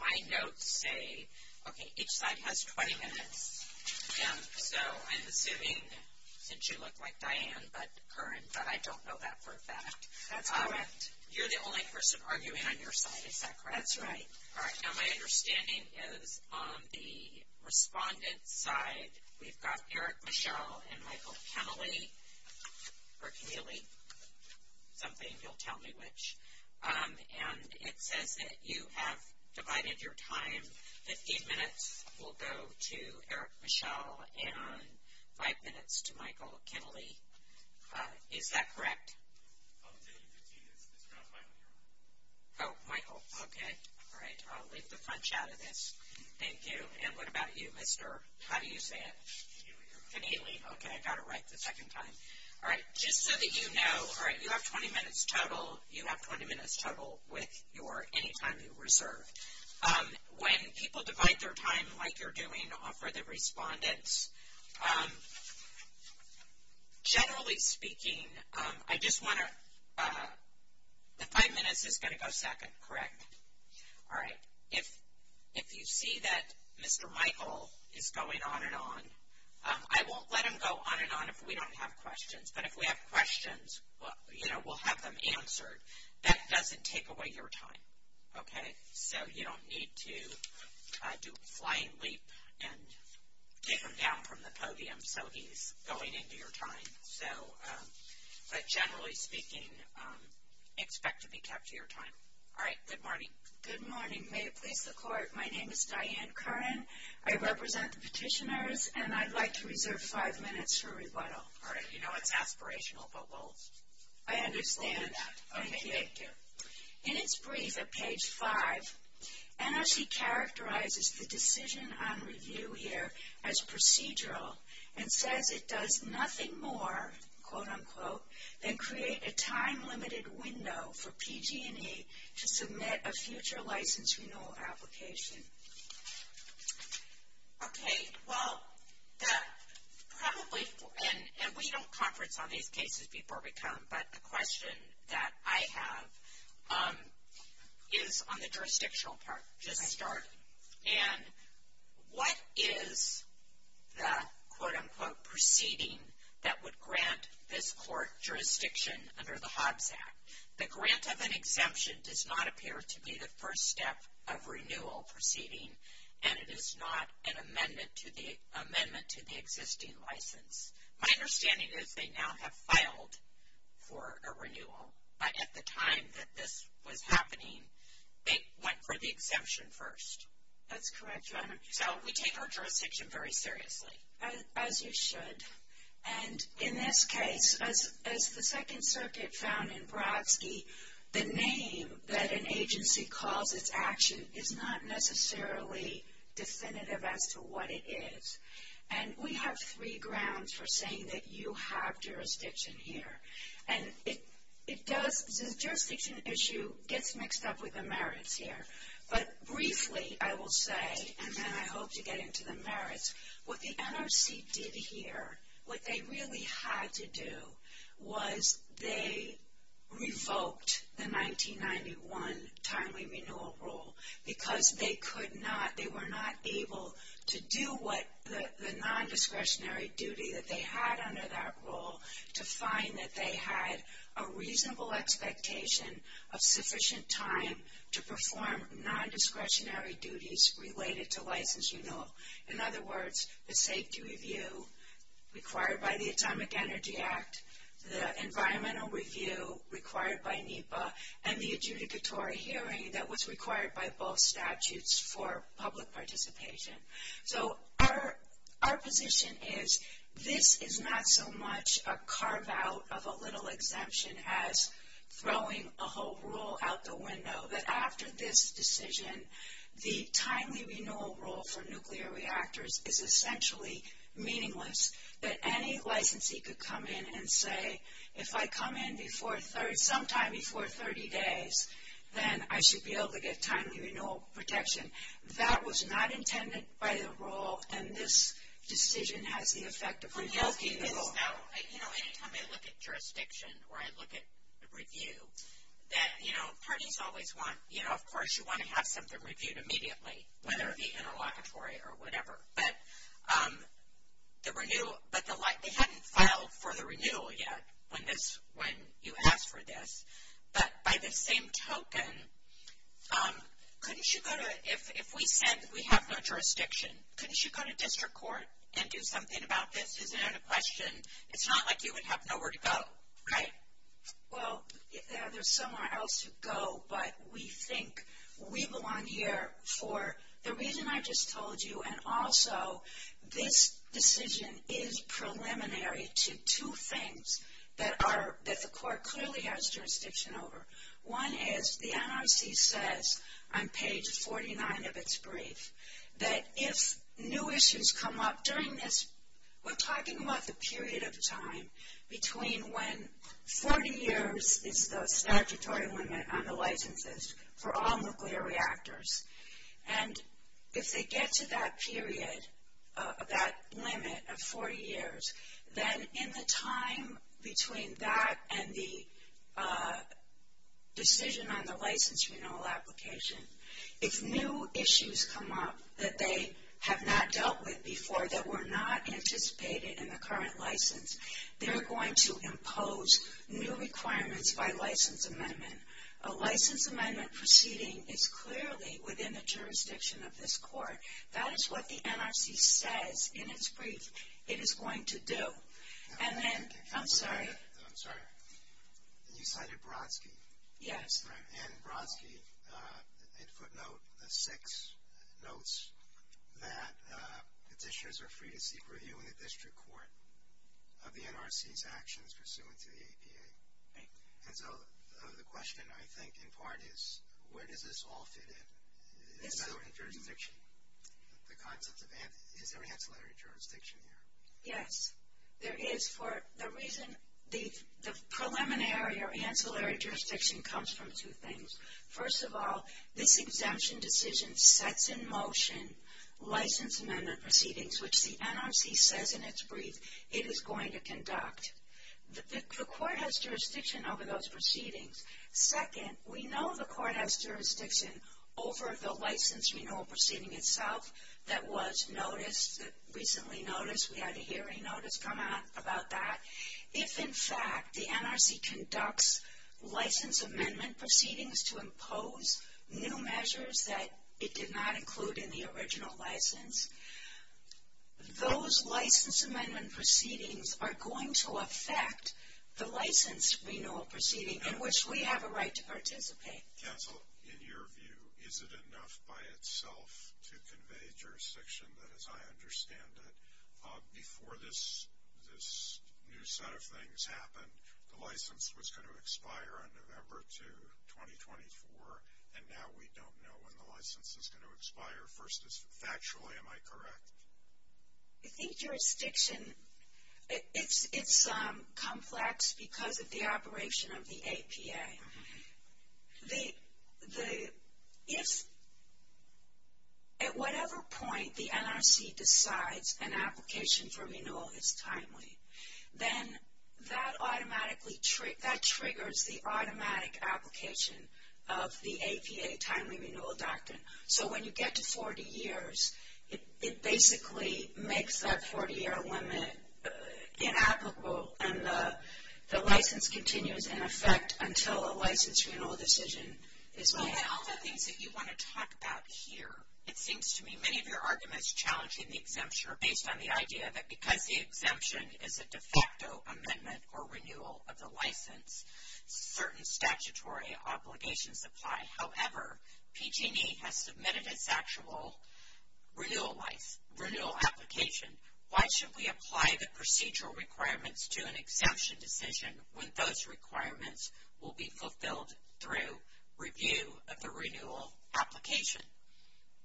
My notes say, okay, each side has 20 minutes, and so I'm assuming, since you look like Diane, but current, but I don't know that for a fact. You're the only person arguing on your side, is that correct? That's right. Alright, now my understanding is on the respondent's side, we've got Eric Michell and Michael Keneally, or Keneally, something, you'll tell me which. And it says that you have divided your time, 15 minutes will go to Eric Michell and 5 minutes to Michael Keneally, is that correct? I'll tell you 15 minutes, it's around Michael here. Oh, Michael, okay, alright, I'll leave the punch out of this, thank you. And what about you, mister, how do you say it? Keneally. Keneally, okay, I got it right the second time. Alright, just so that you know, alright, you have 20 minutes total, you have 20 minutes total with your, any time you reserve. When people divide their time, like you're doing, for the respondents, generally speaking, I just want to, the 5 minutes is going to go second, correct? Alright, if you see that mister Michael is going on and on, I won't let him go on and on if we don't have questions, but if we have questions, well, you know, we'll have them answered. That doesn't take away your time, okay, so you don't need to do a flying leap and take him down from the podium, so he's going into your time, so, but generally speaking, expect to be kept to your time, alright, good morning. Good morning, may it please the court, my name is Diane Curran, I represent the petitioners, and I'd like to reserve 5 minutes for rebuttal. Alright, you know it's aspirational, but we'll do that, okay, thank you. In its brief at page 5, NRC characterizes the decision on review here as procedural and says it does nothing more, quote unquote, than create a time limited window for PG&E to submit a future license renewal application. Okay, well, the, probably, and we don't conference on these cases before we come, but the question that I have is on the jurisdictional part, just start, and what is the quote unquote proceeding that would grant this court jurisdiction under the Hobbs Act? The grant of an exemption does not appear to be the first step of renewal proceeding, and it is not an amendment to the existing license. My understanding is they now have filed for a renewal, but at the time that this was happening, they went for the exemption first. That's correct, Your Honor. So, we take our jurisdiction very seriously. As you should, and in this case, as the Second Circuit found in Brodsky, the name that an agency calls its action is not necessarily definitive as to what it is, and we have three grounds for saying that you have jurisdiction here, and it does, the jurisdiction issue gets mixed up with the merits here, but briefly, I will say, and then I hope to get into the merits, what the NRC did here, what they really had to do was they revoked the 1991 timely renewal rule because they could not, they were not able to do what the non-discretionary duty that they had under that rule to find that they had a reasonable expectation of sufficient time to perform non-discretionary duties related to license renewal. In other words, the safety review required by the Atomic Energy Act, the environmental review required by NEPA, and the adjudicatory hearing that was required by both statutes for public participation. So, our position is this is not so much a carve out of a little exemption as throwing a whole rule out the window, that after this decision, the timely renewal rule for nuclear reactors is essentially meaningless, that any licensee could come in and say, if I come in before 30, sometime before 30 days, then I should be able to get timely renewal protection. That was not intended by the rule, and this decision has the effect of revoking the rule. So, you know, any time I look at jurisdiction, or I look at review, that, you know, parties always want, you know, of course, you want to have something reviewed immediately, whether it be interlocutory or whatever, but the renewal, but they hadn't filed for the renewal yet when this, when you asked for this, but by the same token, couldn't you go to, if we said we have no jurisdiction, couldn't you go to district court and do something about this, isn't it a question? It's not like you would have nowhere to go, right? Well, there's somewhere else to go, but we think we belong here for the reason I just told you, and also, this decision is preliminary to two things that are, that the court clearly has jurisdiction over. One is the NRC says on page 49 of its brief that if new issues come up during this, we're talking about the period of time between when 40 years is the statutory limit on the licenses for all nuclear reactors, and if they get to that period, that limit of 40 years, then in the time between that and the decision on the license renewal application, if new issues come up that they have not dealt with before that were not anticipated in the current license, they're going to impose new requirements by license amendment. A license amendment proceeding is clearly within the jurisdiction of this court. That is what the NRC says in its brief it is going to do, and then, I'm sorry. I'm sorry, you cited Brodsky, and Brodsky in footnote six notes that petitions are free to seek review in the district court of the NRC's actions pursuant to the APA. And so, the question I think in part is, where does this all fit in, in federal jurisdiction? The concept of, is there ancillary jurisdiction here? Yes. There is for the reason, the preliminary or ancillary jurisdiction comes from two things. First of all, this exemption decision sets in motion license amendment proceedings which the NRC says in its brief it is going to conduct. The court has jurisdiction over those proceedings. Second, we know the court has jurisdiction over the license renewal proceeding itself that was noticed, that recently noticed. We had a hearing notice come out about that. If, in fact, the NRC conducts license amendment proceedings to impose new measures that it did not include in the original license, those license amendment proceedings are going to affect the license renewal proceeding in which we have a right to participate. Council, in your view, is it enough by itself to convey jurisdiction that, as I understand it, before this new set of things happened, the license was going to expire on November 2, 2024, and now we don't know when the license is going to expire. First, factually, am I correct? I think jurisdiction, it's complex because of the operation of the APA. If, at whatever point, the NRC decides an application for renewal is timely, then that triggers the automatic application of the APA Timely Renewal Doctrine. So, when you get to 40 years, it basically makes that 40-year limit inapplicable, and the license continues in effect until a license renewal decision is made. And all the things that you want to talk about here, it seems to me, many of your arguments challenging the exemption are based on the idea that because the exemption is a de facto amendment or renewal of the license, certain statutory obligations apply. However, PG&E has submitted its actual renewal application. Why should we apply the procedural requirements to an exemption decision when those requirements will be fulfilled through review of the renewal application?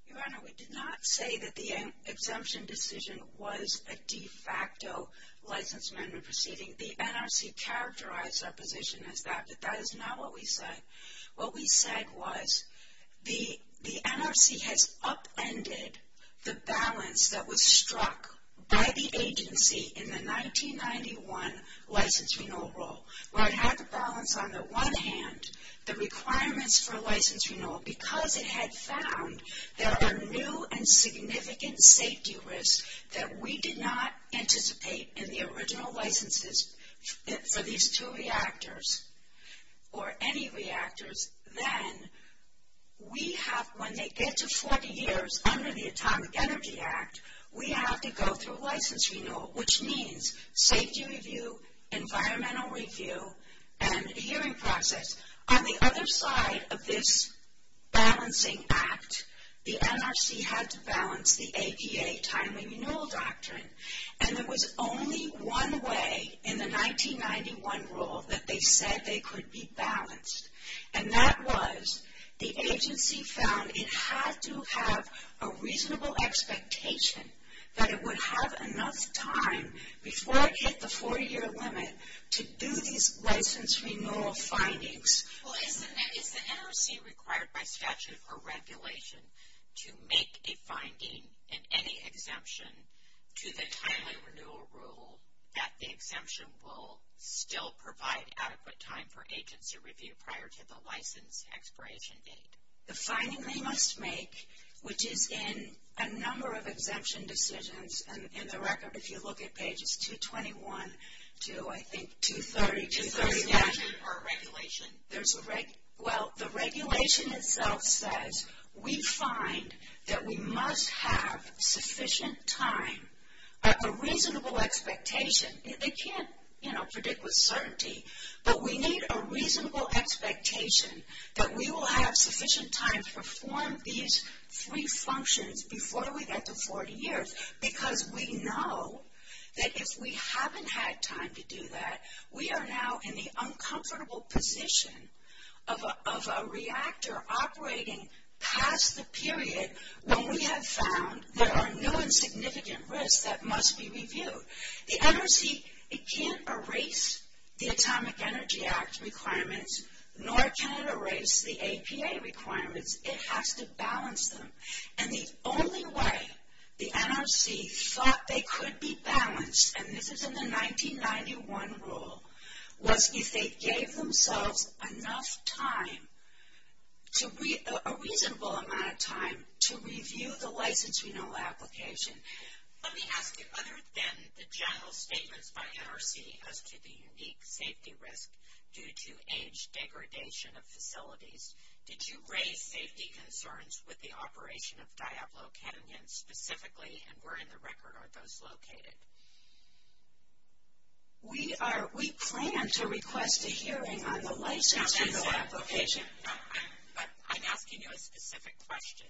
Your Honor, we did not say that the exemption decision was a de facto license amendment proceeding. The NRC characterized our position as that, but that is not what we said. What we said was the NRC has upended the balance that was struck by the agency in the 1991 license renewal rule, where it had to balance on the one hand the requirements for license renewal because it had found there are new and significant safety risks that we did not anticipate in the original licenses for these two reactors or any reactors, then we have, when they get to 40 years under the Atomic Energy Act, we have to go through license renewal, which means safety review, environmental review, and the hearing process. On the other side of this balancing act, the NRC had to balance the APA timely renewal doctrine. And there was only one way in the 1991 rule that they said they could be balanced. And that was the agency found it had to have a reasonable expectation that it would have enough time before it hit the four-year limit to do these license renewal findings. Well, is the NRC required by statute or regulation to make a finding in any exemption to the timely renewal rule that the exemption will still provide adequate time for agency review prior to the license expiration date? The finding they must make, which is in a number of exemption decisions, and in the record, if you look at pages 221 to, I think, 230. Two-thirty statute or regulation? There's a, well, the regulation itself says we find that we must have sufficient time, a reasonable expectation, they can't, you know, predict with certainty, but we need a reasonable expectation that we will have sufficient time to perform these three functions before we get to 40 years. Because we know that if we haven't had time to do that, we are now in the uncomfortable position of a reactor operating past the period when we have found there are no insignificant risks that must be reviewed. The NRC, it can't erase the Atomic Energy Act requirements, nor can it erase the APA requirements. It has to balance them, and the only way the NRC thought they could be balanced, and this is in the 1991 rule, was if they gave themselves enough time to, a reasonable amount of time to review the license renewal application. Let me ask you, other than the general statements by NRC as to the unique safety risk due to age degradation of facilities, did you raise safety concerns with the operation of Diablo Canyon specifically, and where in the record are those located? We are, we plan to request a hearing on the license renewal application. But I'm asking you a specific question.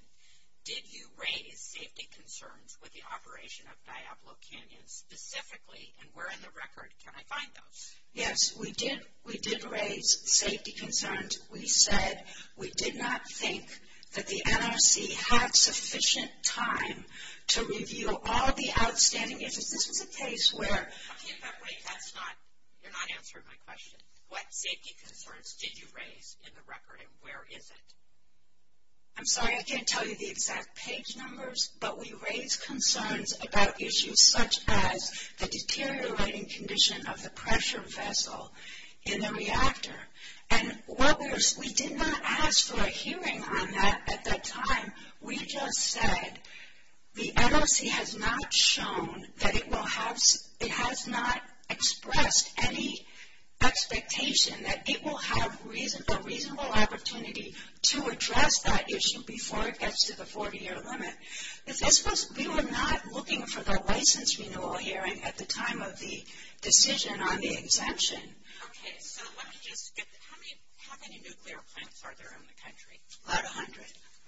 Did you raise safety concerns with the operation of Diablo Canyon specifically, and where in the record can I find those? Yes, we did, we did raise safety concerns. We said we did not think that the NRC had sufficient time to review all the outstanding issues. This was a case where. Okay, but wait, that's not, you're not answering my question. What safety concerns did you raise in the record, and where is it? I'm sorry, I can't tell you the exact page numbers, but we raised concerns about issues such as the deteriorating condition of the pressure vessel in the reactor. And what we're, we did not ask for a hearing on that at that time. We just said the NRC has not shown that it will have, it has not expressed any expectation that it will have a reasonable opportunity to address that issue before it gets to the 40-year limit. This was, we were not looking for the license renewal hearing at the time of the decision on the exemption. Okay, so let me just get, how many, how many nuclear plants are there in the country? About 100.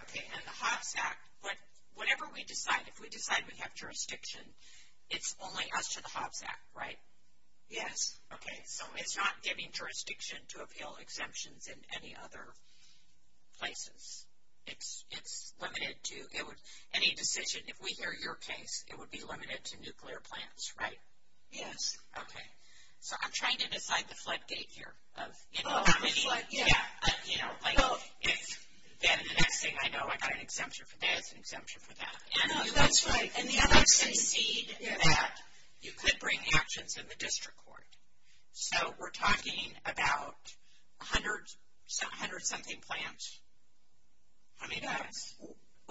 Okay, and the Hobbs Act, but whenever we decide, if we decide we have jurisdiction, it's only us to the Hobbs Act, right? Yes. Okay, so it's not giving jurisdiction to appeal exemptions in any other places. It's, it's limited to, it would, any decision, if we hear your case, it would be limited to nuclear plants, right? Yes. Okay, so I'm trying to decide the flood gate here of, you know, how many, yeah, you know, like if then the next thing I know I got an exemption for that, it's an exemption for that. And you would succeed that, you could bring actions in the district court. So, we're talking about 100, 100 something plants. How many do we have?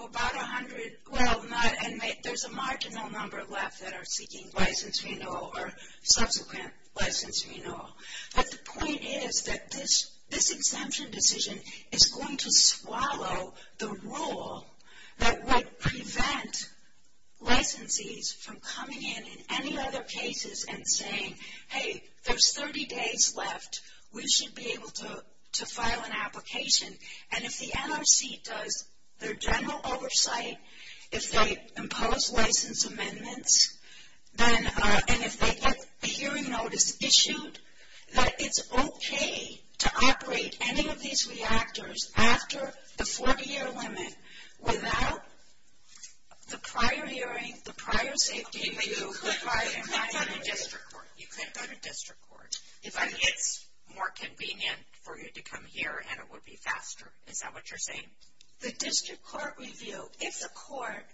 About 100, well, not, and there's a marginal number left that are seeking license renewal or subsequent license renewal. But the point is that this, this exemption decision is going to swallow the rule that would prevent licensees from coming in in any other cases and saying, hey, there's 30 days left, we should be able to, to file an application. And if the NRC does their general oversight, if they impose license amendments, then, and if they get a hearing notice issued, that it's okay to operate any of these reactors after the 40-year limit without the prior hearing, the prior safety. You could go to district court, you could go to district court, if it's more convenient for you to come here and it would be faster, is that what you're saying? The district court review, if the court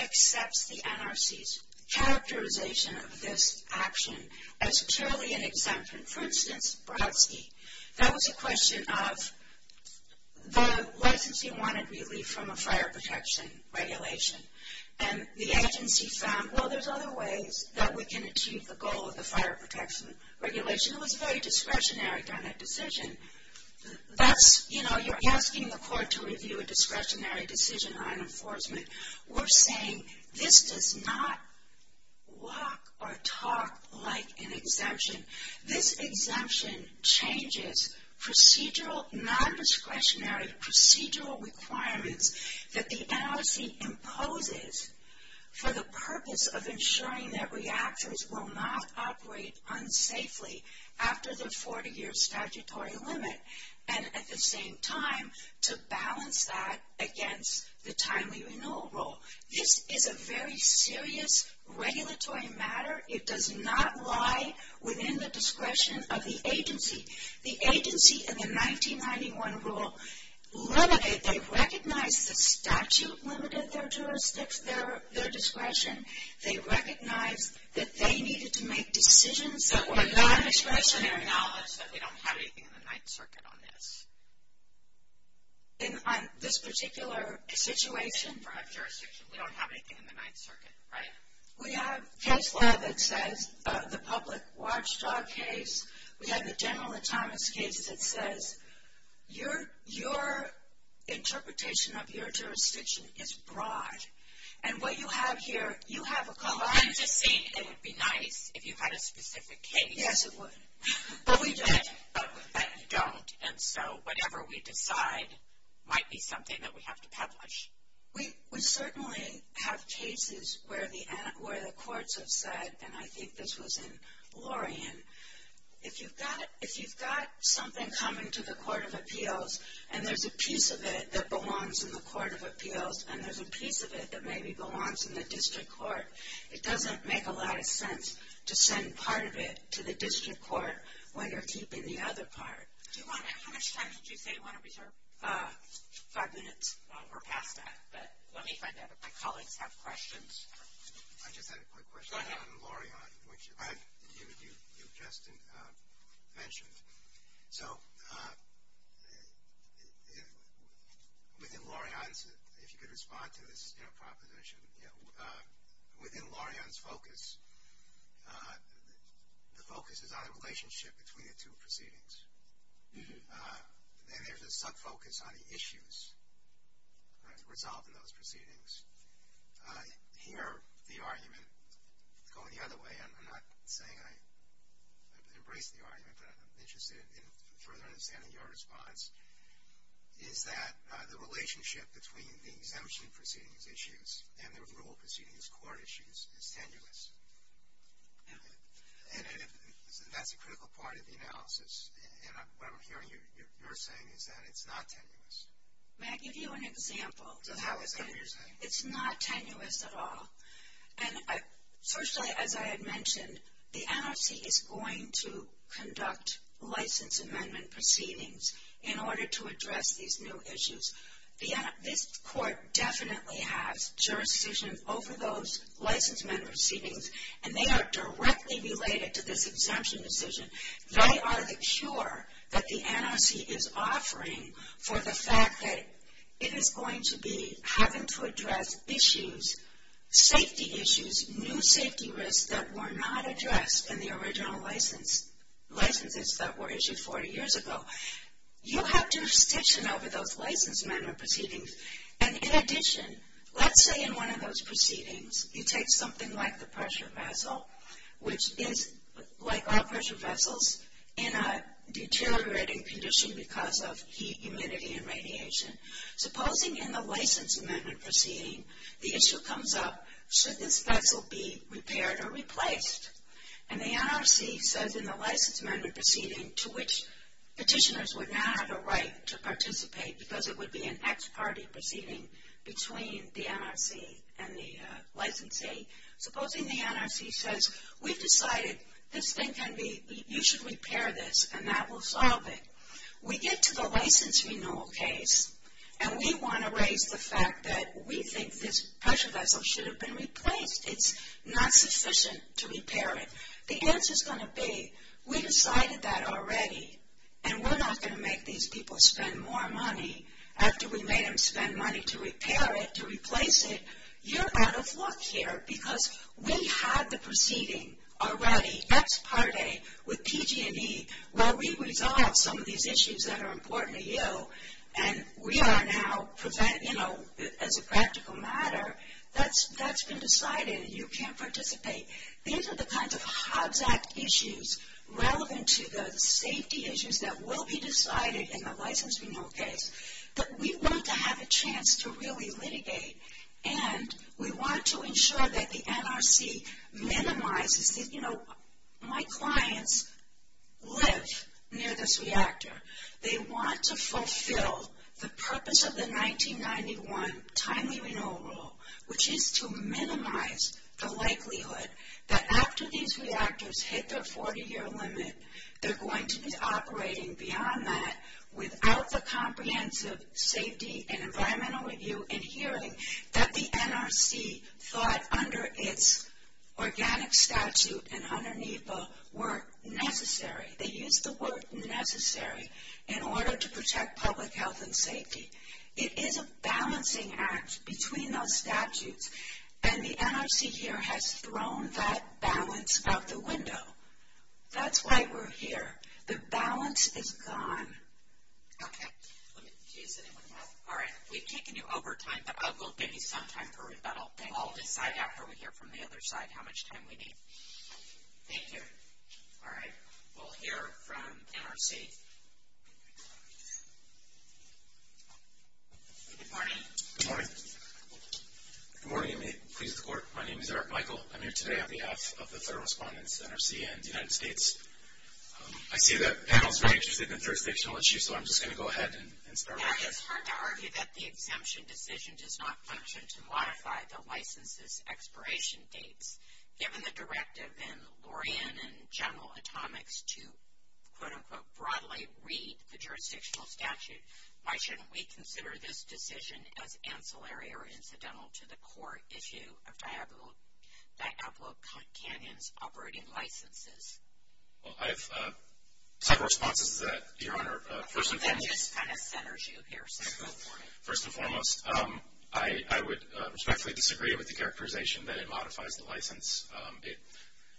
accepts the NRC's characterization of this action as purely an exemption, for instance, Brodsky, that was a question of the licensee wanted relief from a fire protection regulation. And the agency found, well, there's other ways that we can achieve the goal of the fire protection regulation. It was a very discretionary kind of decision. That's, you know, you're asking the court to review a discretionary decision on enforcement. We're saying, this does not walk or talk like an exemption. This exemption changes procedural, non-discretionary procedural requirements that the NRC imposes for the purpose of ensuring that reactors will not operate unsafely after the 40-year statutory limit, and at the same time, to balance that against the timely renewal rule. This is a very serious regulatory matter. It does not lie within the discretion of the agency. The agency in the 1991 rule, they recognized the statute limited their jurisdiction. They recognized that they needed to make decisions that were non-discretionary. And now, let's say they don't have anything in the Ninth Circuit on this. In this particular situation for our jurisdiction, we don't have anything in the Ninth Circuit, right? We have case law that says the public watchdog case. We have the general entitlements case that says your interpretation of your jurisdiction is broad. And what you have here, you have a color. I'm just saying it would be nice if you had a specific case. Yes, it would. But we don't. But you don't. And so, whatever we decide might be something that we have to publish. We certainly have cases where the courts have said, and I think this was in Laurian, if you've got something coming to the Court of Appeals, and there's a piece of it that belongs in the Court of Appeals, and there's a piece of it that maybe belongs in the district court, it doesn't make a lot of sense to send part of it to the district court when you're keeping the other part. Do you want to, how much time did you say you want to reserve? Five minutes. We're past that. But let me find out if my colleagues have questions. I just had a quick question. Go ahead. On Laurian, which you just mentioned. So, within Laurian, if you could respond to this proposition, you know, within Laurian's focus, the focus is on the relationship between the two proceedings. And there's a sub-focus on the issues resolved in those proceedings. Here, the argument, going the other way, I'm not saying I embrace the argument, but I'm interested in further understanding your response, is that the relationship between the exemption proceedings issues and the rule of proceedings court issues is tenuous. And that's a critical part of the analysis. And what I'm hearing you're saying is that it's not tenuous. May I give you an example? So, how is that what you're saying? It's not tenuous at all. And, firstly, as I had mentioned, the NRC is going to conduct license amendment proceedings in order to address these new issues. This court definitely has jurisdiction over those license amendment proceedings. And they are directly related to this exemption decision. They are the cure that the NRC is offering for the fact that it is going to be having to address issues, safety issues, new safety risks that were not addressed in the original licenses that were issued 40 years ago. You have jurisdiction over those license amendment proceedings. And, in addition, let's say in one of those proceedings, you take something like the pressure vessel, which is, like all pressure vessels, in a deteriorating condition because of heat, humidity, and radiation. Supposing in the license amendment proceeding, the issue comes up, should this vessel be repaired or replaced? And the NRC says in the license amendment proceeding, to which petitioners would not have a right to participate because it would be an ex parte proceeding between the NRC and the licensee. Supposing the NRC says, we've decided this thing can be, you should repair this, and that will solve it. We get to the license renewal case, and we want to raise the fact that we think this pressure vessel should have been replaced. It's not sufficient to repair it. The answer's going to be, we decided that already, and we're not going to make these people spend more money after we made them spend money to repair it, to replace it. You're out of luck here because we had the proceeding already, ex parte, with PG&E. Well, we resolved some of these issues that are important to you, and we are now, you know, as a practical matter, that's been decided, and you can't participate. These are the kinds of Hobbs Act issues relevant to the safety issues that will be decided in the license renewal case, but we want to have a chance to really litigate, and we want to ensure that the NRC minimizes, you know, my clients live near this reactor. They want to fulfill the purpose of the 1991 timely renewal rule, which is to minimize the likelihood that after these reactors hit their 40-year limit, they're going to be operating beyond that without the comprehensive safety and environmental review and hearing that the NRC thought under its organic statute and underneath the work necessary, they used the work necessary in order to protect public health and safety. It is a balancing act between those statutes, and the NRC here has thrown that balance out the window. That's why we're here. The balance is gone. Okay. Let me, do you see anyone else? All right. We've taken you over time, but we'll give you some time for rebuttal. And we'll all decide after we hear from the other side how much time we need. Thank you. All right. We'll hear from NRC. Good morning. Good morning. Good morning, and may it please the court. My name is Eric Michael. I'm here today on behalf of the third respondents, NRC and the United States. I see that the panel is very interested in jurisdictional issues, so I'm just going to go ahead and start with that. It's hard to argue that the exemption decision does not function to modify the licenses expiration dates. Given the directive in Lorian and General Atomics to, quote, unquote, broadly read the jurisdictional statute, why shouldn't we consider this decision as ancillary or incidental to the court issue of Diablo Canyon's operating licenses? First and foremost, I would respectfully disagree with the characterization that it modifies the license.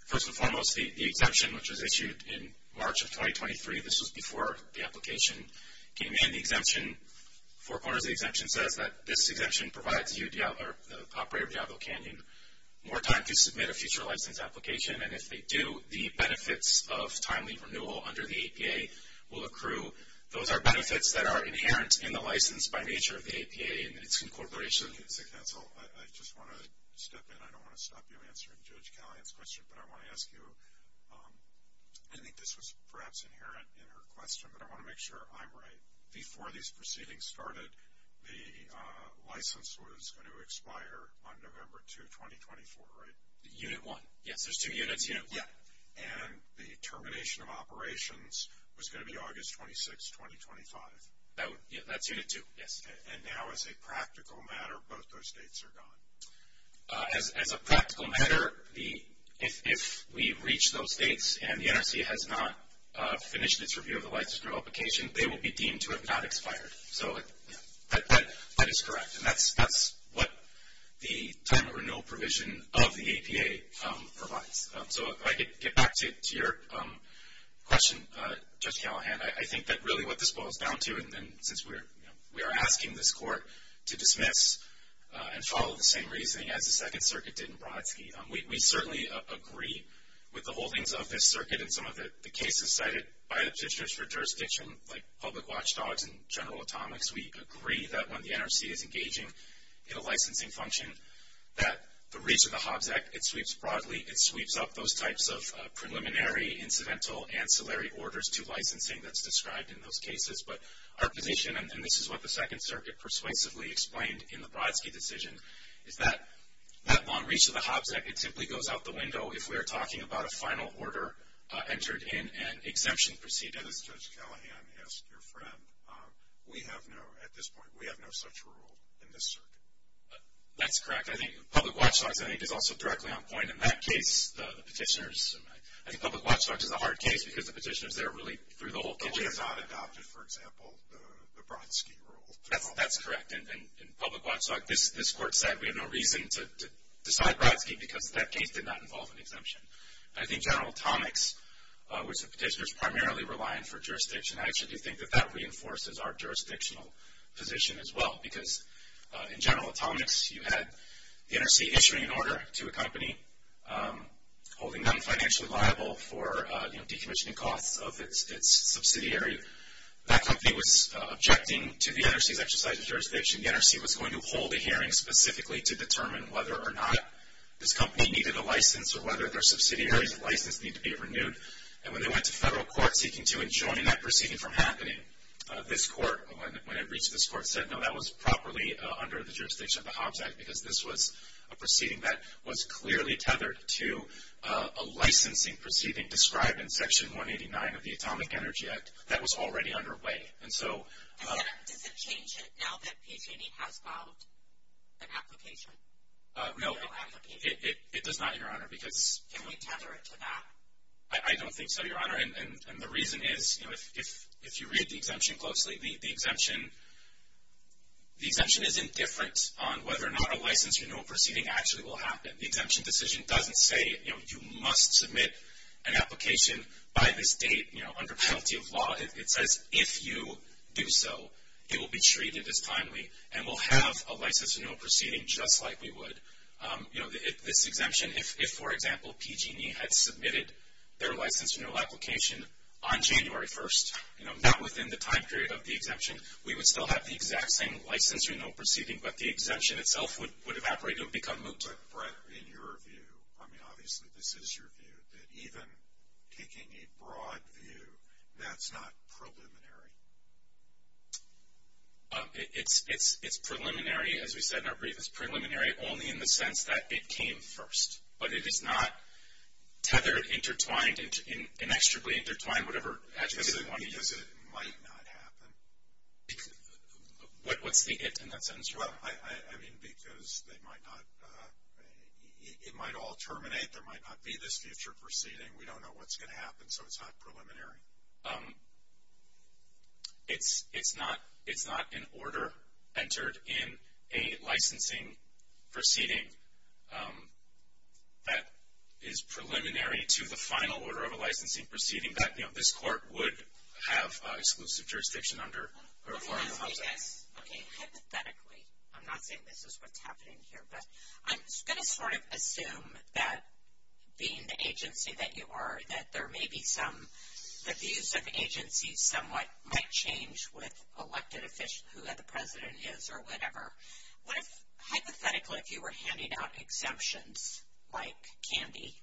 First and foremost, the exemption, which was issued in March of 2023, this was before the application came in. The exemption, four corners of the exemption says that this exemption provides the operator of Diablo Canyon more time to submit a future license application. And if they do, the benefits of timely renewal under the APA will accrue. Those are benefits that are inherent in the license by nature of the APA and its incorporation. I just want to step in. I don't want to stop you answering Judge Callahan's question, but I want to ask you, I think this was perhaps inherent in her question, but I want to make sure I'm right. Before these proceedings started, the license was going to expire on November 2, 2024, right? Unit one, yes. There's two units, unit one. Yeah. And the termination of operations was going to be August 26, 2025. That's unit two, yes. And now as a practical matter, both those dates are gone. As a practical matter, if we reach those dates and the NRC has not finished its review of the license for application, they will be deemed to have not expired. So that is correct. And that's what the timely renewal provision of the APA provides. So if I could get back to your question, Judge Callahan, I think that really what this boils down to, and since we are asking this court to dismiss and follow the same reasoning as the Second Circuit did in Brodsky, we certainly agree with the holdings of this circuit and some of the cases cited by the District for Jurisdiction like Public Watch Dogs and General Atomics. We agree that when the NRC is engaging in a licensing function that the reach of the HOBZEC, it sweeps broadly, it sweeps up those types of preliminary, incidental, ancillary orders to licensing that's described in those cases. But our position, and this is what the Second Circuit persuasively explained in the Brodsky decision, is that that long reach of the HOBZEC, it simply goes out the window if we are talking about a final order entered in an exemption proceeding. And as Judge Callahan asked your friend, we have no, at this point, we have no such rule in this circuit. That's correct. I think Public Watch Dogs, I think, is also directly on point. In that case, the petitioners, I think Public Watch Dogs is a hard case because the petitioners, they're really through the whole kitchen. The HOBZEC adopted, for example, the Brodsky rule. That's correct. And Public Watch Dogs, this court said we have no reason to decide Brodsky because that case did not involve an exemption. I think General Atomics, which the petitioners primarily rely on for jurisdiction, I actually do think that that reinforces our jurisdictional position as well. Because in General Atomics, you had the NRC issuing an order to a company, holding them financially liable for, you know, decommissioning costs of its subsidiary. That company was objecting to the NRC's exercise of jurisdiction. The NRC was going to hold a hearing specifically to determine whether or not this company needed a license or whether their subsidiary's license needed to be renewed. And when they went to federal court seeking to enjoin that proceeding from happening, this court, when it reached this court, said no, that was properly under the jurisdiction of the HOBZEC because this was a proceeding that was clearly tethered to a licensing proceeding, described in Section 189 of the Atomic Energy Act, that was already underway. And so. Does it change it now that PG&E has filed an application? No, it does not, Your Honor, because. Can we tether it to that? I don't think so, Your Honor. And the reason is, you know, if you read the exemption closely, the exemption is indifferent on whether or not a license renewal proceeding actually will happen. The exemption decision doesn't say, you know, you must submit an application by this date, you know, under penalty of law. It says if you do so, it will be treated as timely and we'll have a license renewal proceeding just like we would. You know, this exemption, if, for example, PG&E had submitted their license renewal application on January 1st, you know, not within the time period of the exemption, we would still have the exact same license renewal proceeding, but the exemption itself would evaporate, it would become moot. But, Brett, in your view, I mean, obviously, this is your view, that even taking a broad view, that's not preliminary. It's preliminary, as we said in our brief. It's preliminary only in the sense that it came first. But it is not tethered, intertwined, inexorably intertwined, whatever adjective you want to use. Because it might not happen. What's the it in that sentence, Your Honor? Well, I mean, because they might not, it might all terminate. There might not be this future proceeding. We don't know what's going to happen, so it's not preliminary. It's not an order entered in a licensing proceeding that is preliminary to the final order of a licensing proceeding that, you know, this court would have exclusive jurisdiction under. Okay. Hypothetically, I'm not saying this is what's happening here, but I'm going to sort of assume that being the agency that you are, that there may be some, that the use of the agency somewhat might change with elected officials, who the president is, or whatever. What if, hypothetically, if you were handing out exemptions, like candy,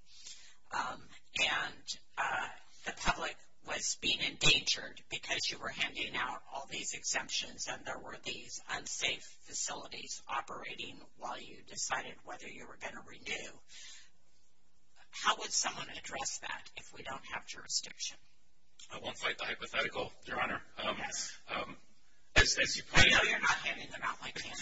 and the public was being endangered because you were handing out all these exemptions, and there were these unsafe facilities operating while you decided whether you were going to renew. How would someone address that if we don't have jurisdiction? I won't fight the hypothetical, Your Honor. Yes. As you pointed out. I know you're not handing them out like candy,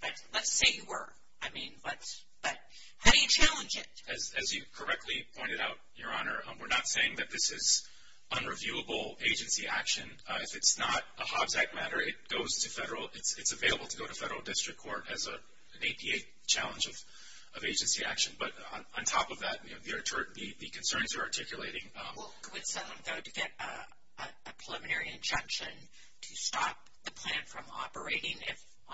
but let's say you were. I mean, let's, but how do you challenge it? As you correctly pointed out, Your Honor, we're not saying that this is unreviewable agency action. If it's not a Hobbs Act matter, it goes to federal, it's available to go to federal district court as an APA challenge of agency action. But on top of that, you know, the concerns you're articulating. Would someone go to get a preliminary injunction to stop the plan from operating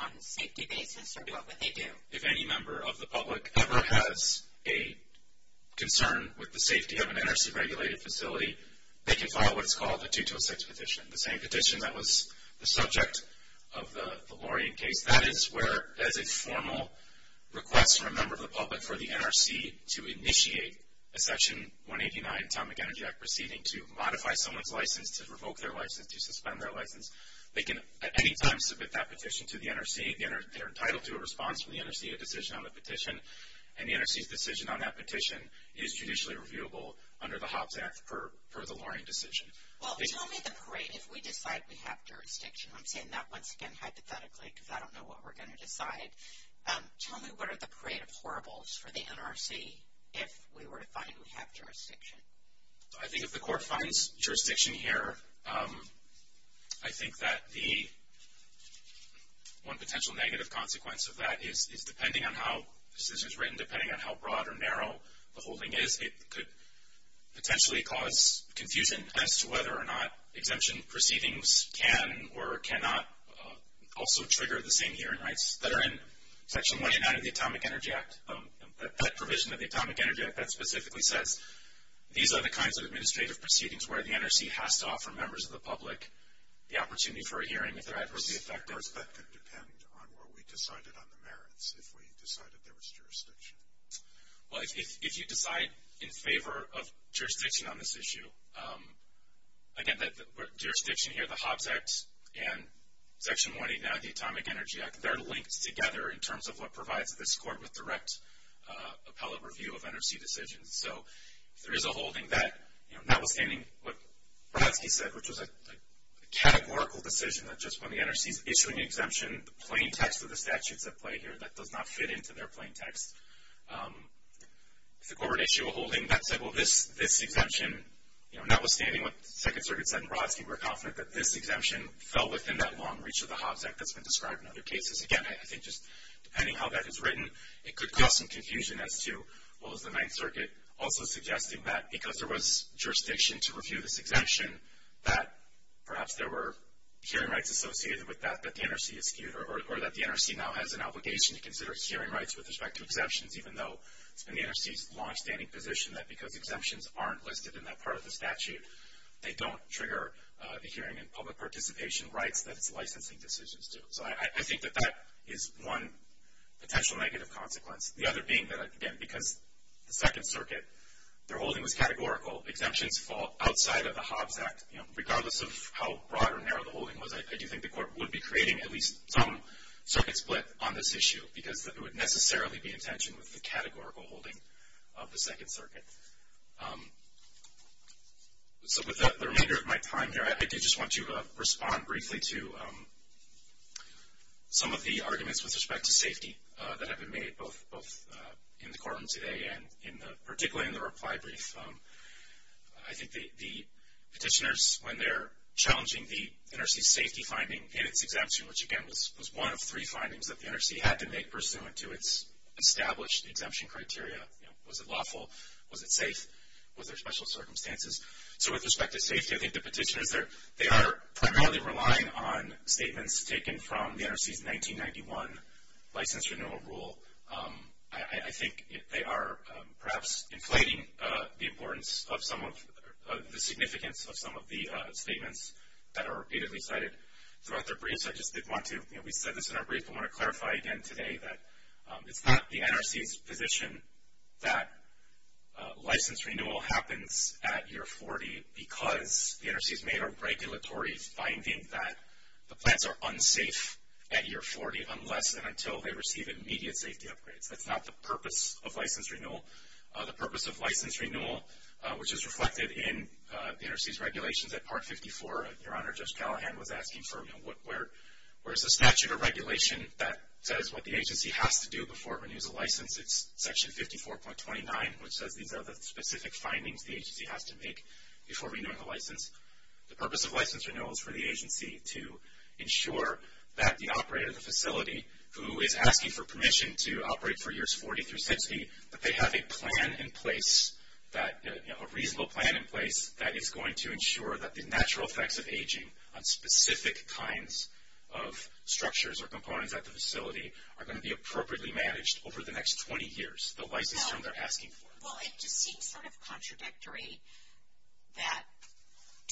on a safety basis, or do what would they do? If any member of the public ever has a concern with the safety of an NRC regulated facility, they can file what's called a 226 petition. The same petition that was the subject of the Lorien case. That is where, as a formal request from a member of the public for the NRC to initiate a section 189 Atomic Energy Act proceeding to modify someone's license, to revoke their license, to suspend their license. They can at any time submit that petition to the NRC. They're entitled to a response from the NRC, a decision on a petition. And the NRC's decision on that petition is judicially reviewable under the Hobbs Act per the Lorien decision. Well, tell me the parade, if we decide we have jurisdiction. I'm saying that once again, hypothetically, because I don't know what we're going to decide. Tell me, what are the parade of horribles for the NRC if we were to find we have jurisdiction? I think if the court finds jurisdiction here, I think that the one potential negative consequence of that is depending on how the decision is written, depending on how broad or narrow the holding is, it could potentially cause confusion as to whether or not exemption proceedings can or cannot also trigger the same hearing rights that are in section 189 of the Atomic Energy Act. That provision of the Atomic Energy Act that specifically says these are the kinds of administrative proceedings where the NRC has to offer members of the public the opportunity for a hearing if they're adversely affected. Of course, that could depend on what we decided on the merits, if we decided there was jurisdiction. Well, if you decide in favor of jurisdiction on this issue, again, that jurisdiction here, the Hobbs Act and section 189 of the Atomic Energy Act, they're linked together in terms of what provides this court with direct appellate review of NRC decisions. So, if there is a holding that notwithstanding what Brodsky said, which was a categorical decision that just when the NRC is issuing an exemption, the plain text of the statutes at play here, that does not fit into their plain text. If the court would issue a holding that said, well, this exemption, notwithstanding what the Second Circuit said and Brodsky, we're confident that this exemption fell within that long reach of the Hobbs Act that's been described in other cases. Again, I think just depending how that is written, it could cause some confusion as to, well, is the Ninth Circuit also suggesting that because there was jurisdiction to review this exemption that perhaps there were hearing rights associated with that that the NRC eschewed or that the NRC now has an obligation to consider its hearing rights with respect to exemptions even though it's been the NRC's longstanding position that because exemptions aren't listed in that part of the statute, they don't trigger the hearing and public participation rights that its licensing decisions do. So I think that that is one potential negative consequence. The other being that, again, because the Second Circuit, their holding was categorical. Exemptions fall outside of the Hobbs Act. You know, regardless of how broad or narrow the holding was, I do think the court would be creating at least some circuit split on this issue because it would necessarily be in tension with the categorical holding of the Second Circuit. So with the remainder of my time here, I do just want to respond briefly to some of the arguments with respect to safety that have been made both in the courtroom today and particularly in the reply brief. I think the petitioners, when they're challenging the NRC's safety finding in its exemption, which again was one of three findings that the NRC had to make pursuant to its established exemption criteria, you know, was it lawful? Was it safe? Was there special circumstances? So with respect to safety, I think the petitioners, they are primarily relying on statements taken from the NRC's 1991 license renewal rule. I think they are perhaps inflating the importance of some of the significance of some of the statements that are repeatedly cited throughout their briefs. I just did want to, you know, we said this in our brief, I want to clarify again today that it's not the NRC's position that license renewal happens at year 40 because the NRC's made a regulatory finding that the plants are unsafe at year 40 unless and until they receive immediate safety upgrades. That's not the purpose of license renewal. The purpose of license renewal, which is reflected in the NRC's regulations at Part 54, Your Honor, Judge Callahan was asking for, you know, where's the statute of regulation that says what the agency has to do before it renews a license. It's section 54.29, which says these are the specific findings the agency has to make before renewing a license. The purpose of license renewal is for the agency to ensure that the operator of the facility who is asking for permission to operate for years 40 through 60, that they have a plan in place that, you know, a reasonable plan in place that is going to ensure that the natural effects of aging on specific kinds of structures or components at the facility are going to be appropriately managed over the next 20 years, the license term they're asking for. Well, it just seems sort of contradictory that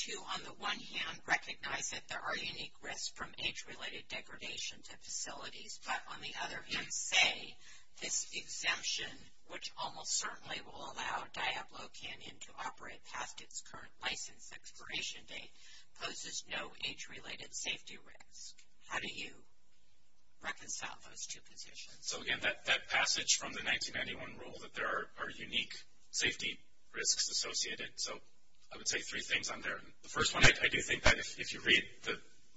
to, on the one hand, recognize that there are unique risks from age-related degradation to facilities, but on the other hand, say this exemption, which almost certainly will allow Diablo Canyon to operate past its current license expiration date, poses no age-related safety risk. How do you reconcile those two positions? So, again, that passage from the 1991 rule that there are unique safety risks associated. So, I would say three things on there. The first one, I do think that if you read the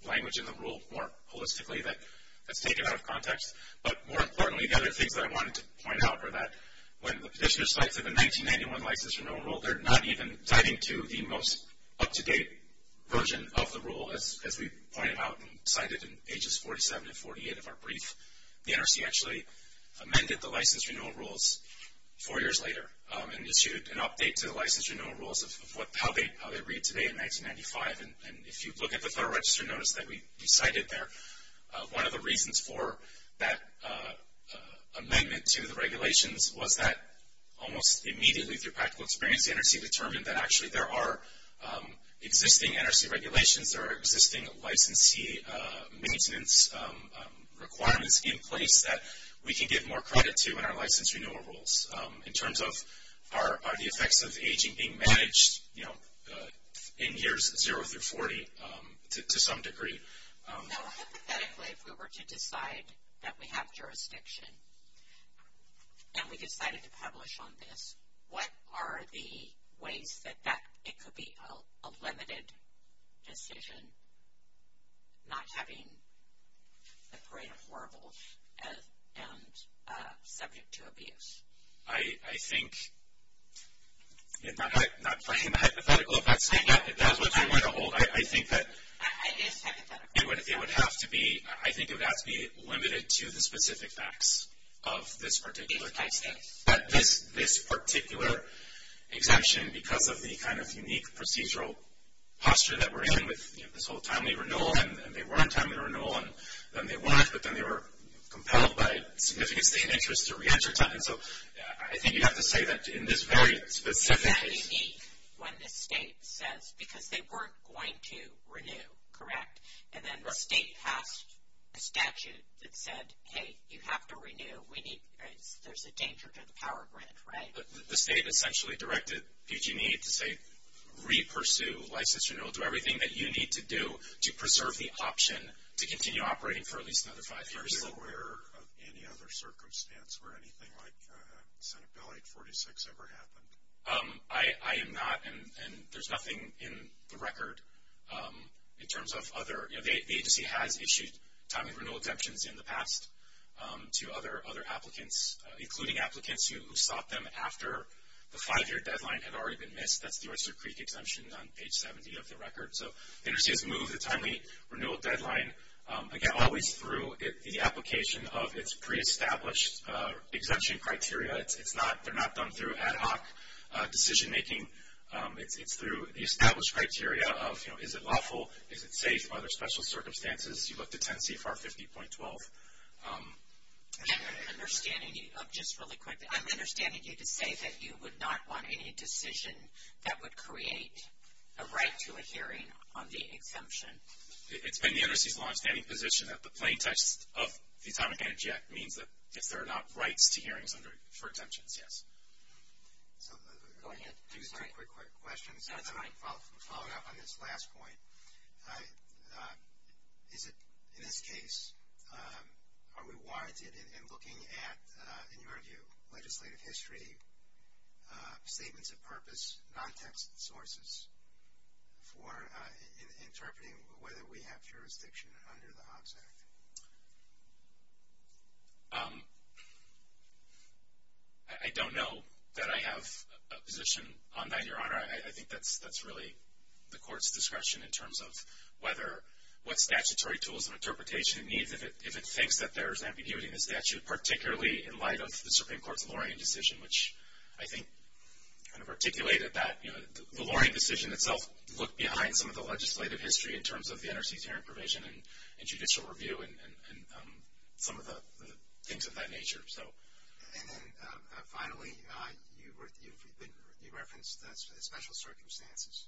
language in the rule more holistically, that's taken out of context, but more importantly, the other things that I wanted to point out were that when the petitioner cites the 1991 license renewal rule, they're not even tithing to the most up-to-date version of the rule, as we pointed out and cited in pages 47 and 48 of our brief, the NRC actually amended the license renewal rules four years later and issued an update to the license renewal rules of how they read today in 1995. And if you look at the Federal Register notice that we cited there, one of the reasons for that amendment to the regulations was that almost immediately through practical experience, the NRC determined that actually there are existing NRC regulations, there are existing licensee maintenance requirements in place that we can give more credit to in our license renewal rules in terms of are the effects of aging being managed, you know, in years zero through 40 to some degree. Now hypothetically, if we were to decide that we have jurisdiction and we decided to publish on this, what are the ways that it could be a limited decision not having a parade of horribles and subject to abuse? I think, not playing the hypothetical, if that's what you want to hold. I think that it would have to be, I think it would have to be limited to the specific facts of this particular case, this particular exemption because of the kind of unique procedural posture that we're in with this whole timely renewal, and they weren't timely renewal, and then they weren't, but then they were compelled by a significant state interest to re-enter time, so I think you'd have to say that in this very specific case. It's that unique when the state says, because they weren't going to renew, correct? And then the state passed a statute that said, hey, you have to renew. We need, there's a danger to the power grant, right? But the state essentially directed PG&E to say, re-pursue license renewal, do everything that you need to do to preserve the option to continue operating for at least another five years. Are you aware of any other circumstance where anything like Senate Bill 846 ever happened? I am not, and there's nothing in the record in terms of other, you know, the agency has issued timely renewal exemptions in the past to other applicants, including applicants who sought them after the five-year deadline had already been missed. That's the Oyster Creek exemption on page 70 of the record. So, the agency has moved the timely renewal deadline, again, always through the application of its pre-established exemption criteria. It's not, they're not done through ad hoc decision-making. It's through the established criteria of, you know, is it lawful? Is it safe? Other special circumstances, you look to 10 CFR 50.12. I'm understanding, just really quickly, I'm understanding you to say that you would not want any decision that would create a right to a hearing on the exemption. It's been the undersea's longstanding position that the plain text of the Atomic Energy Act means that if there are not rights to hearings under, for exemptions, yes. Go ahead. Do you have a quick question? I'll follow up on this last point. Is it, in this case, are we warranted in looking at, in your view, legislative history, statements of purpose, non-text sources for interpreting whether we have jurisdiction under the Hobbs Act? I don't know that I have a position on that, Your Honor. I think that's really the court's discretion in terms of whether, what statutory tools and interpretation it needs if it thinks that there's ambiguity in the statute, particularly in light of the Supreme Court's Loring Decision, which I think kind of articulated that the Loring Decision itself looked behind some of the legislative history in terms of the undersea's hearing provision and judicial review and some of the things of that nature. So. And then, finally, you referenced the special circumstances.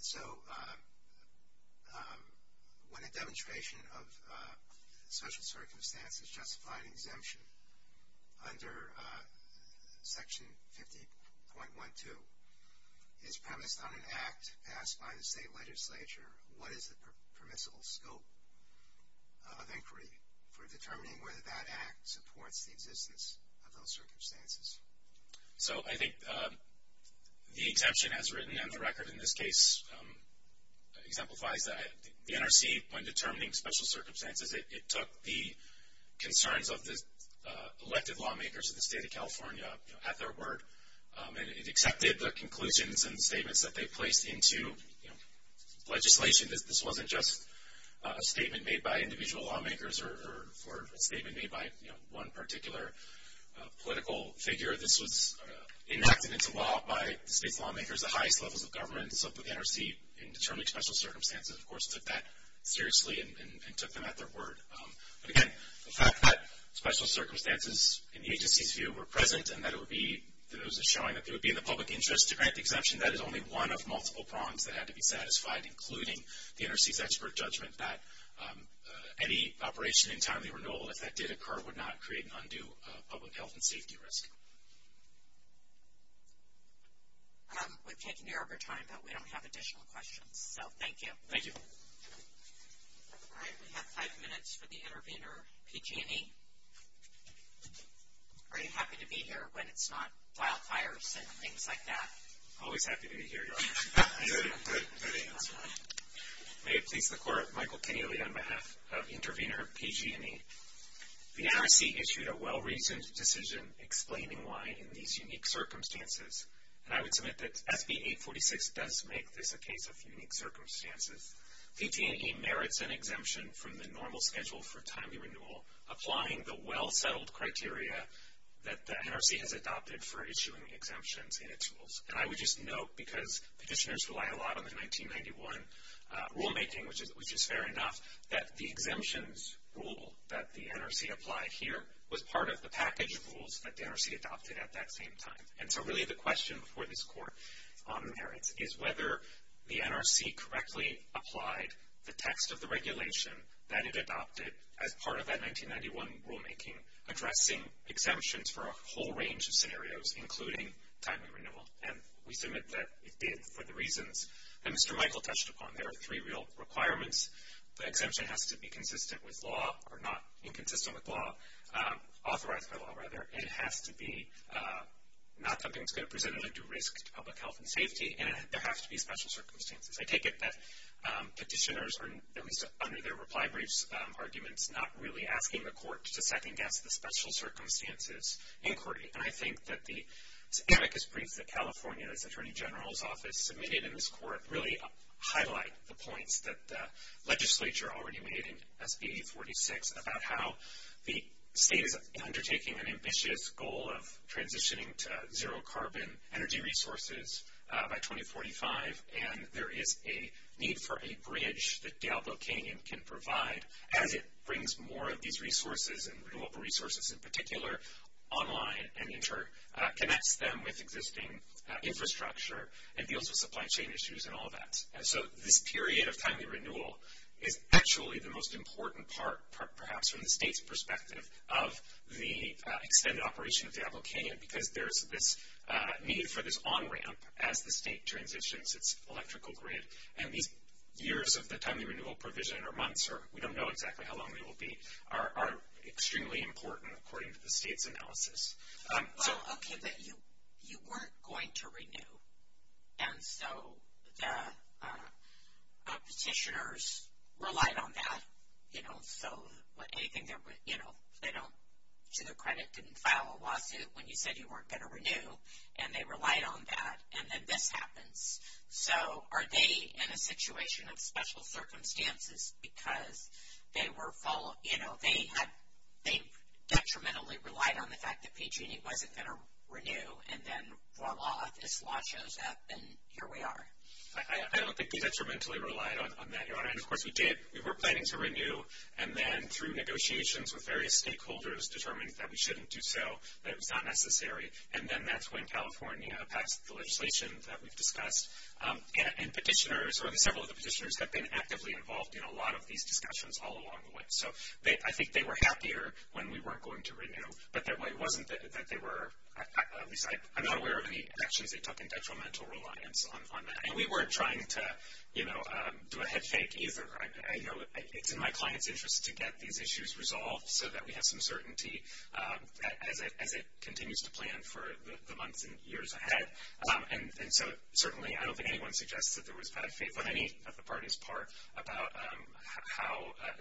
So, when a demonstration of special circumstances justify an exemption under Section 50.12, is premised on an act passed by the state legislature, what is the permissible scope of inquiry for determining whether that act supports the existence of those circumstances? So, I think the exemption as written in the record in this case exemplifies that. The NRC, when determining special circumstances, it took the concerns of the elected lawmakers of the state of California at their word and it accepted the conclusions and statements that they placed into legislation. This wasn't just a statement made by individual lawmakers or a statement made by one particular political figure. This was enacted into law by the state's lawmakers, the highest levels of government. So, the NRC, in determining special circumstances, of course, took that seriously and took them at their word. But, again, the fact that special circumstances in the agency's view were present and that it would be, that it was showing that they would be in the public interest to grant the exemption, that is only one of multiple prongs that had to be satisfied, including the NRC's expert judgment that any operation in timely renewal, if that did occur, would not create an undue public health and safety risk. We've taken your overtime, but we don't have additional questions. So, thank you. Thank you. All right, we have five minutes for the intervener, PG&E. Are you happy to be here when it's not wildfires and things like that? Always happy to be here, Your Honor. Good, good. May it please the Court, Michael Kenyally on behalf of intervener, PG&E. The NRC issued a well-reasoned decision explaining why in these unique circumstances. And I would submit that SB 846 does make this a case of unique circumstances. PG&E merits an exemption from the normal schedule for timely renewal, applying the well-settled criteria that the NRC has adopted for issuing exemptions in its rules. And I would just note, because petitioners rely a lot on the 1991 rulemaking, which is fair enough, that the exemptions rule that the NRC applied here was part of the package rules that the NRC adopted at that same time. And so, really, the question before this Court on merits is whether the NRC correctly applied the text of the regulation that it adopted as part of that 1991 rulemaking, addressing exemptions for a whole range of scenarios, including timely renewal. And we submit that it did for the reasons that Mr. Michael touched upon. There are three real requirements. The exemption has to be consistent with law or not inconsistent with law, authorized by law, rather. It has to be not something that's going to present any due risk to public health and safety. And there has to be special circumstances. I take it that petitioners are, at least under their reply briefs, arguments not really asking the Court to second-guess the special circumstances inquiry. And I think that the amicus brief that California's Attorney General's Office submitted in this Court really highlight the points that the legislature already made in SB 846 about how the state is undertaking an ambitious goal of transitioning to zero-carbon energy resources by 2045. And there is a need for a bridge that Diablo Canyon can provide as it brings more of these resources and renewable resources in particular online and interconnects them with existing infrastructure and deals with supply chain issues and all of that. And so this period of timely renewal is actually the most important part, perhaps from the state's perspective, of the extended operation of Diablo Canyon because there's this need for this on-ramp as the state transitions its electrical grid. And these years of the timely renewal provision, or months, or we don't know exactly how long they will be, are extremely important according to the state's analysis. So. Okay, but you weren't going to renew. And so the petitioners relied on that. You know, so anything that, you know, they don't, to their credit, didn't file a lawsuit when you said you weren't going to renew, and they relied on that, and then this happens. So are they in a situation of special circumstances because they were, you know, they detrimentally relied on the fact that PG&E wasn't going to renew, and then voila, this law shows up, and here we are. I don't think we detrimentally relied on that, Your Honor. And of course we did. We were planning to renew, and then through negotiations with various stakeholders, determined that we shouldn't do so, that it was not necessary. And then that's when California passed the legislation that we've discussed, and petitioners, or several of the petitioners have been actively involved in a lot of these discussions all along the way. So I think they were happier when we weren't going to renew. But it wasn't that they were, at least I'm not aware of any actions they took in detrimental reliance on that. And we weren't trying to, you know, do a head fake either. You know, it's in my client's interest to get these issues resolved so that we have some certainty as it continues to plan for the months and years ahead. And so certainly I don't think anyone suggests that there was bad faith on any of the parties' part about how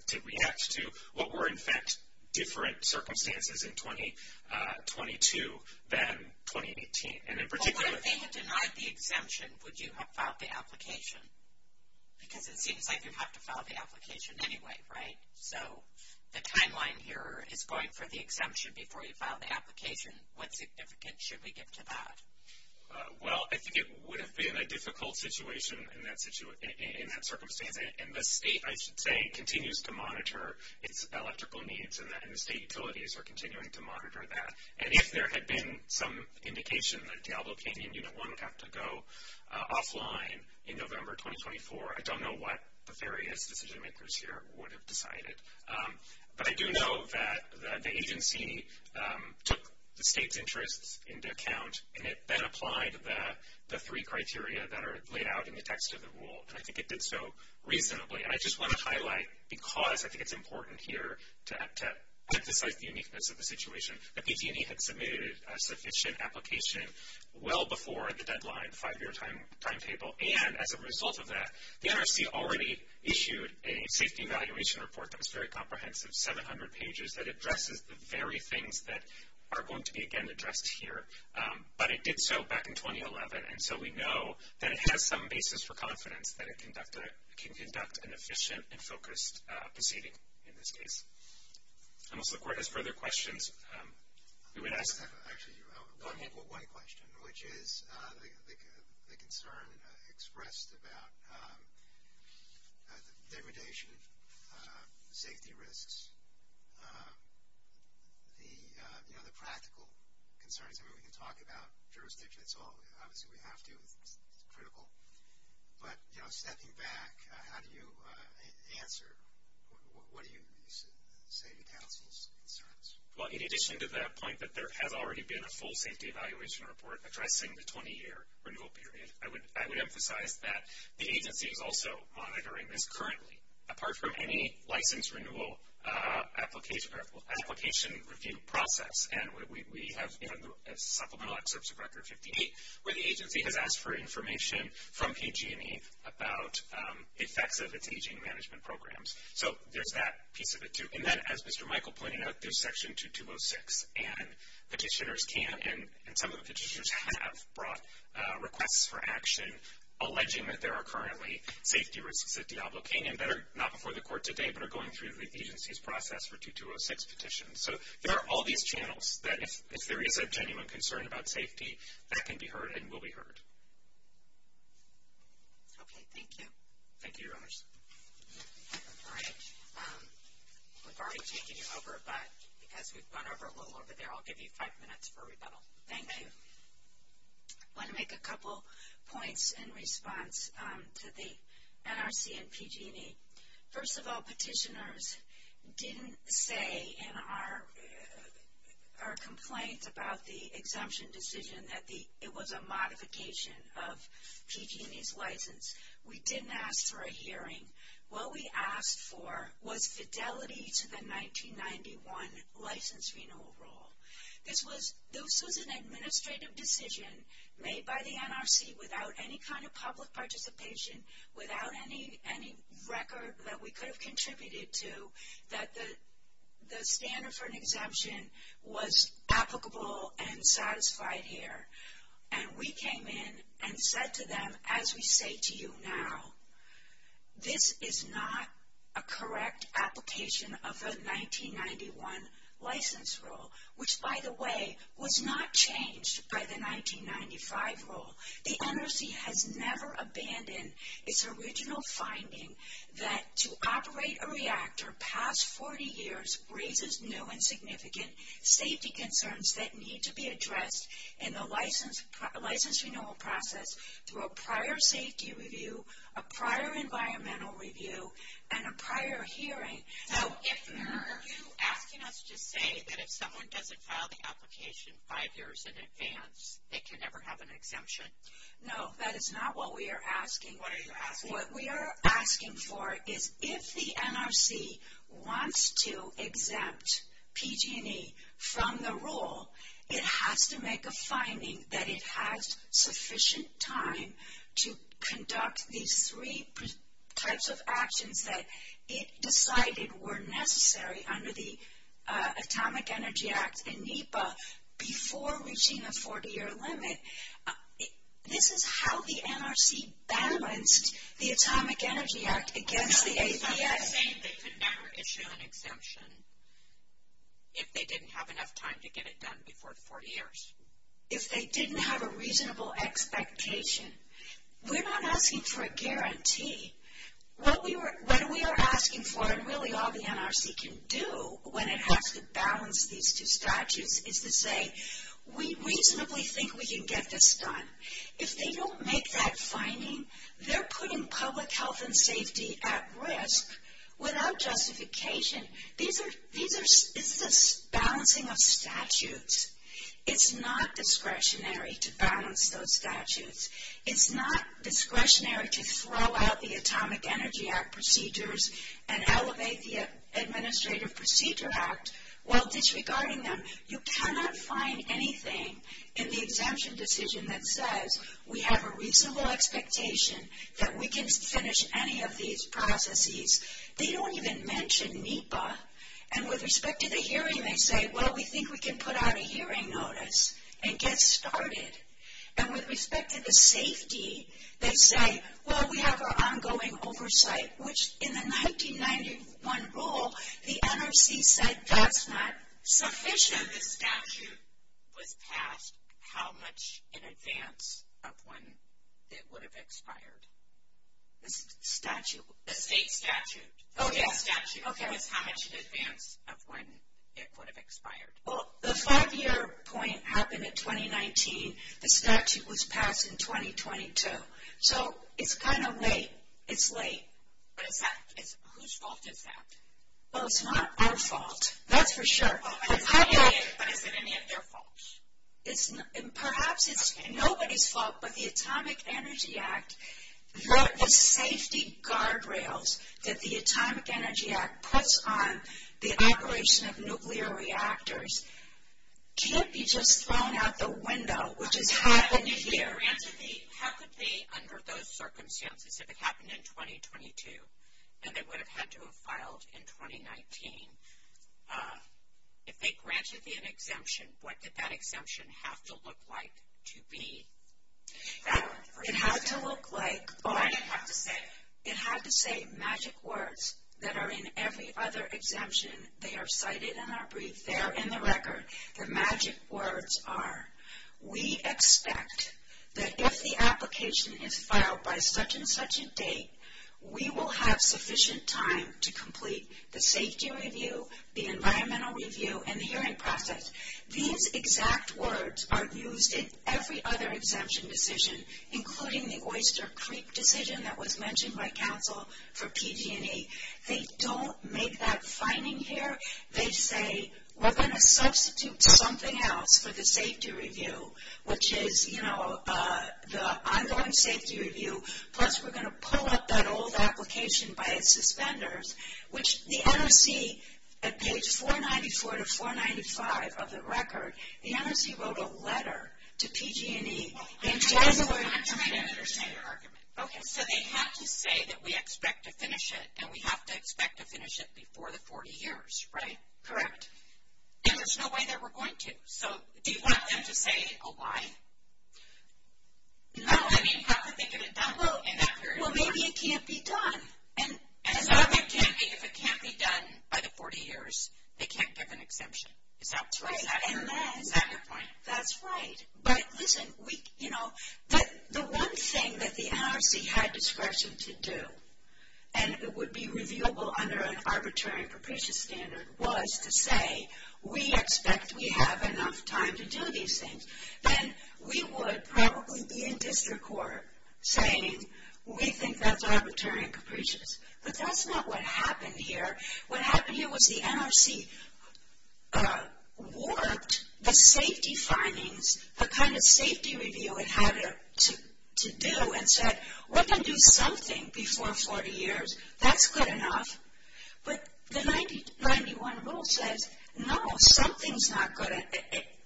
to react to what were, in fact, different circumstances in 2022 than 2018. And in particular. But what if they had denied the exemption? Would you have filed the application? Because it seems like you have to file the application anyway, right? So the timeline here is going for the exemption before you file the application. What significance should we give to that? Well, I think it would have been a difficult situation in that circumstance. And the state, I should say, continues to monitor its electrical needs. And the state utilities are continuing to monitor that. And if there had been some indication that Diablo Canyon Unit 1 would have to go offline in November 2024, I don't know what the various decision makers here would have decided. But I do know that the agency took the state's interests into account. And it then applied the three criteria that are laid out in the text of the rule. And I think it did so reasonably. And I just want to highlight, because I think it's important here to emphasize the uniqueness of the situation, that PT&E had submitted a sufficient application well before the deadline, five-year timetable, and as a result of that, the NRC already issued a safety evaluation report that was very comprehensive, 700 pages, that addresses the very things that are going to be, again, addressed here. But it did so back in 2011. And so we know that it has some basis for confidence that it can conduct an efficient and focused proceeding in this case. Unless the court has further questions, we would ask. I just have actually one question, which is the concern expressed about the degradation safety risks, you know, the practical concerns. I mean, we can talk about jurisdiction, it's all, obviously we have to, it's critical. But, you know, stepping back, how do you answer, what do you say to counsel's concerns? Well, in addition to that point, that there has already been a full safety evaluation report addressing the 20-year renewal period, I would emphasize that the agency is also monitoring this currently. Apart from any license renewal application review process, and we have, you know, supplemental excerpts of record 58, where the agency has asked for information from PT&E about effects of its aging management programs. So there's that piece of it, too. And then, as Mr. Michael pointed out, there's section 2206. And petitioners can, and some of the petitioners have brought requests for action alleging that there are currently safety risks at Diablo Canyon that are not before the court today, but are going through the agency's process for 2206 petitions. So there are all these channels that if there is a genuine concern about safety, that can be heard and will be heard. Okay, thank you. Thank you, Your Honors. All right, we've already taken you over, but because we've gone over a little over there, I'll give you five minutes for rebuttal. Thank you. I want to make a couple points in response to the NRC and PG&E. First of all, petitioners didn't say in our complaint about the exemption decision that it was a modification of PG&E's license. We didn't ask for a hearing. What we asked for was fidelity to the 1991 license renewal rule. This was an administrative decision made by the NRC without any kind of public participation, without any record that we could have contributed to, that the standard for an exemption was applicable and satisfied here. And we came in and said to them, as we say to you now, this is not a correct application of the 1991 license rule, which, by the way, was not changed by the 1995 rule. The NRC has never abandoned its original finding that to operate a reactor past 40 years raises new and significant safety concerns that need to be addressed in the license renewal process through a prior safety review, a prior environmental review, and a prior hearing. Now, if you're asking us to say that if someone doesn't file the application five years in advance, they can never have an exemption. No, that is not what we are asking. What are you asking? What we are asking for is if the NRC wants to exempt PG&E from the rule, it has to make a finding that it has sufficient time to conduct these three types of actions that it decided were necessary under the Atomic Energy Act and NEPA before reaching a 40-year limit. This is how the NRC balanced the Atomic Energy Act against the APS. I'm not saying they could never issue an exemption if they didn't have enough time to get it done before 40 years. If they didn't have a reasonable expectation. We're not asking for a guarantee. What we are asking for, and really all the NRC can do when it has to balance these two statutes, is to say we reasonably think we can get this done. If they don't make that finding, they're putting public health and safety at risk without justification. It's this balancing of statutes. It's not discretionary to balance those statutes. It's not discretionary to throw out the Atomic Energy Act procedures and elevate the Administrative Procedure Act while disregarding them. You cannot find anything in the exemption decision that says we have a reasonable expectation that we can finish any of these processes. They don't even mention NEPA. And with respect to the hearing, they say, well, we think we can put out a hearing notice and get started. And with respect to the safety, they say, well, we have our ongoing oversight, which in the 1991 rule, the NRC said that's not sufficient. The statute was passed how much in advance of when it would have expired? The statute? The state statute. Oh, yeah. Statute was how much in advance of when it would have expired. Well, the five-year point happened in 2019. The statute was passed in 2022. So, it's kind of late. It's late. But is that, whose fault is that? Well, it's not our fault. That's for sure. But is it any of their fault? It's, perhaps it's nobody's fault, but the Atomic Energy Act, the safety guardrails that the Atomic Energy Act puts on the operation of nuclear reactors can't be just thrown out the window, which is happening here. How could they, under those circumstances, if it happened in 2022, and they would have had to have filed in 2019, if they granted the exemption, what did that exemption have to look like to be valid? It had to look like, oh, I didn't have to say. It had to say magic words that are in every other exemption. They are cited in our brief. They are in the record. The magic words are, we expect that if the application is filed by such and such a date, we will have sufficient time to complete the safety review, the environmental review, and the hearing process. These exact words are used in every other exemption decision, including the Oyster Creek decision that was mentioned by council for PG&E. They don't make that finding here. They say, we're going to substitute something else for the safety review, which is, you know, the ongoing safety review, plus we're going to pull up that old application by its suspenders, which the NRC, at page 494 to 495 of the record, the NRC wrote a letter to PG&E. They tried to work out. I'm trying to understand your argument. Okay. So they have to say that we expect to finish it, and we have to expect to finish it before the 40 years, right? Correct. And there's no way that we're going to. So do you want them to say a why? No. I mean, how could they get it done in that period of time? Well, maybe it can't be done. And if it can't be done by the 40 years, they can't give an exemption. Is that right? Is that your point? That's right. But listen, you know, the one thing that the NRC had discretion to do, and it would be revealable under an arbitrary and capricious standard, was to say we expect we have enough time to do these things. Then we would probably be in district court saying we think that's arbitrary and capricious. But that's not what happened here. What happened here was the NRC warped the safety findings, the kind of safety review it had to do, and said, we're going to do something before 40 years. That's good enough. But the 90, 91 rule says, no, something's not good.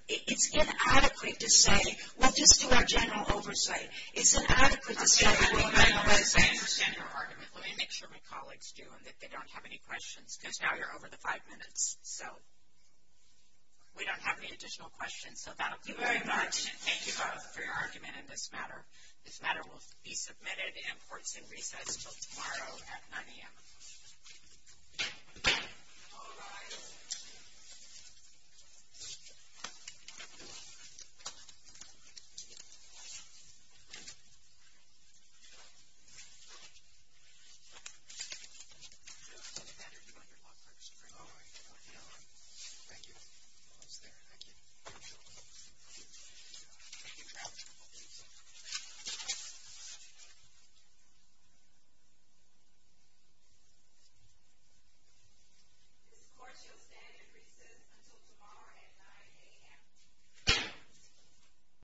It's inadequate to say, well, just to our general oversight. It's inadequate to say we're going to let it stay. I understand your argument. Let me make sure my colleagues do, and that they don't have any questions. Because now you're over the five minutes. So we don't have any additional questions. So that'll be very much. Thank you both for your argument in this matter. This matter will be submitted and courts and recess until tomorrow at 9 AM. All rise. All right. Thank you. Thank you. Thank you. Thank you. Thank you. Thank you. This court shall stand in recess until tomorrow at 9 AM.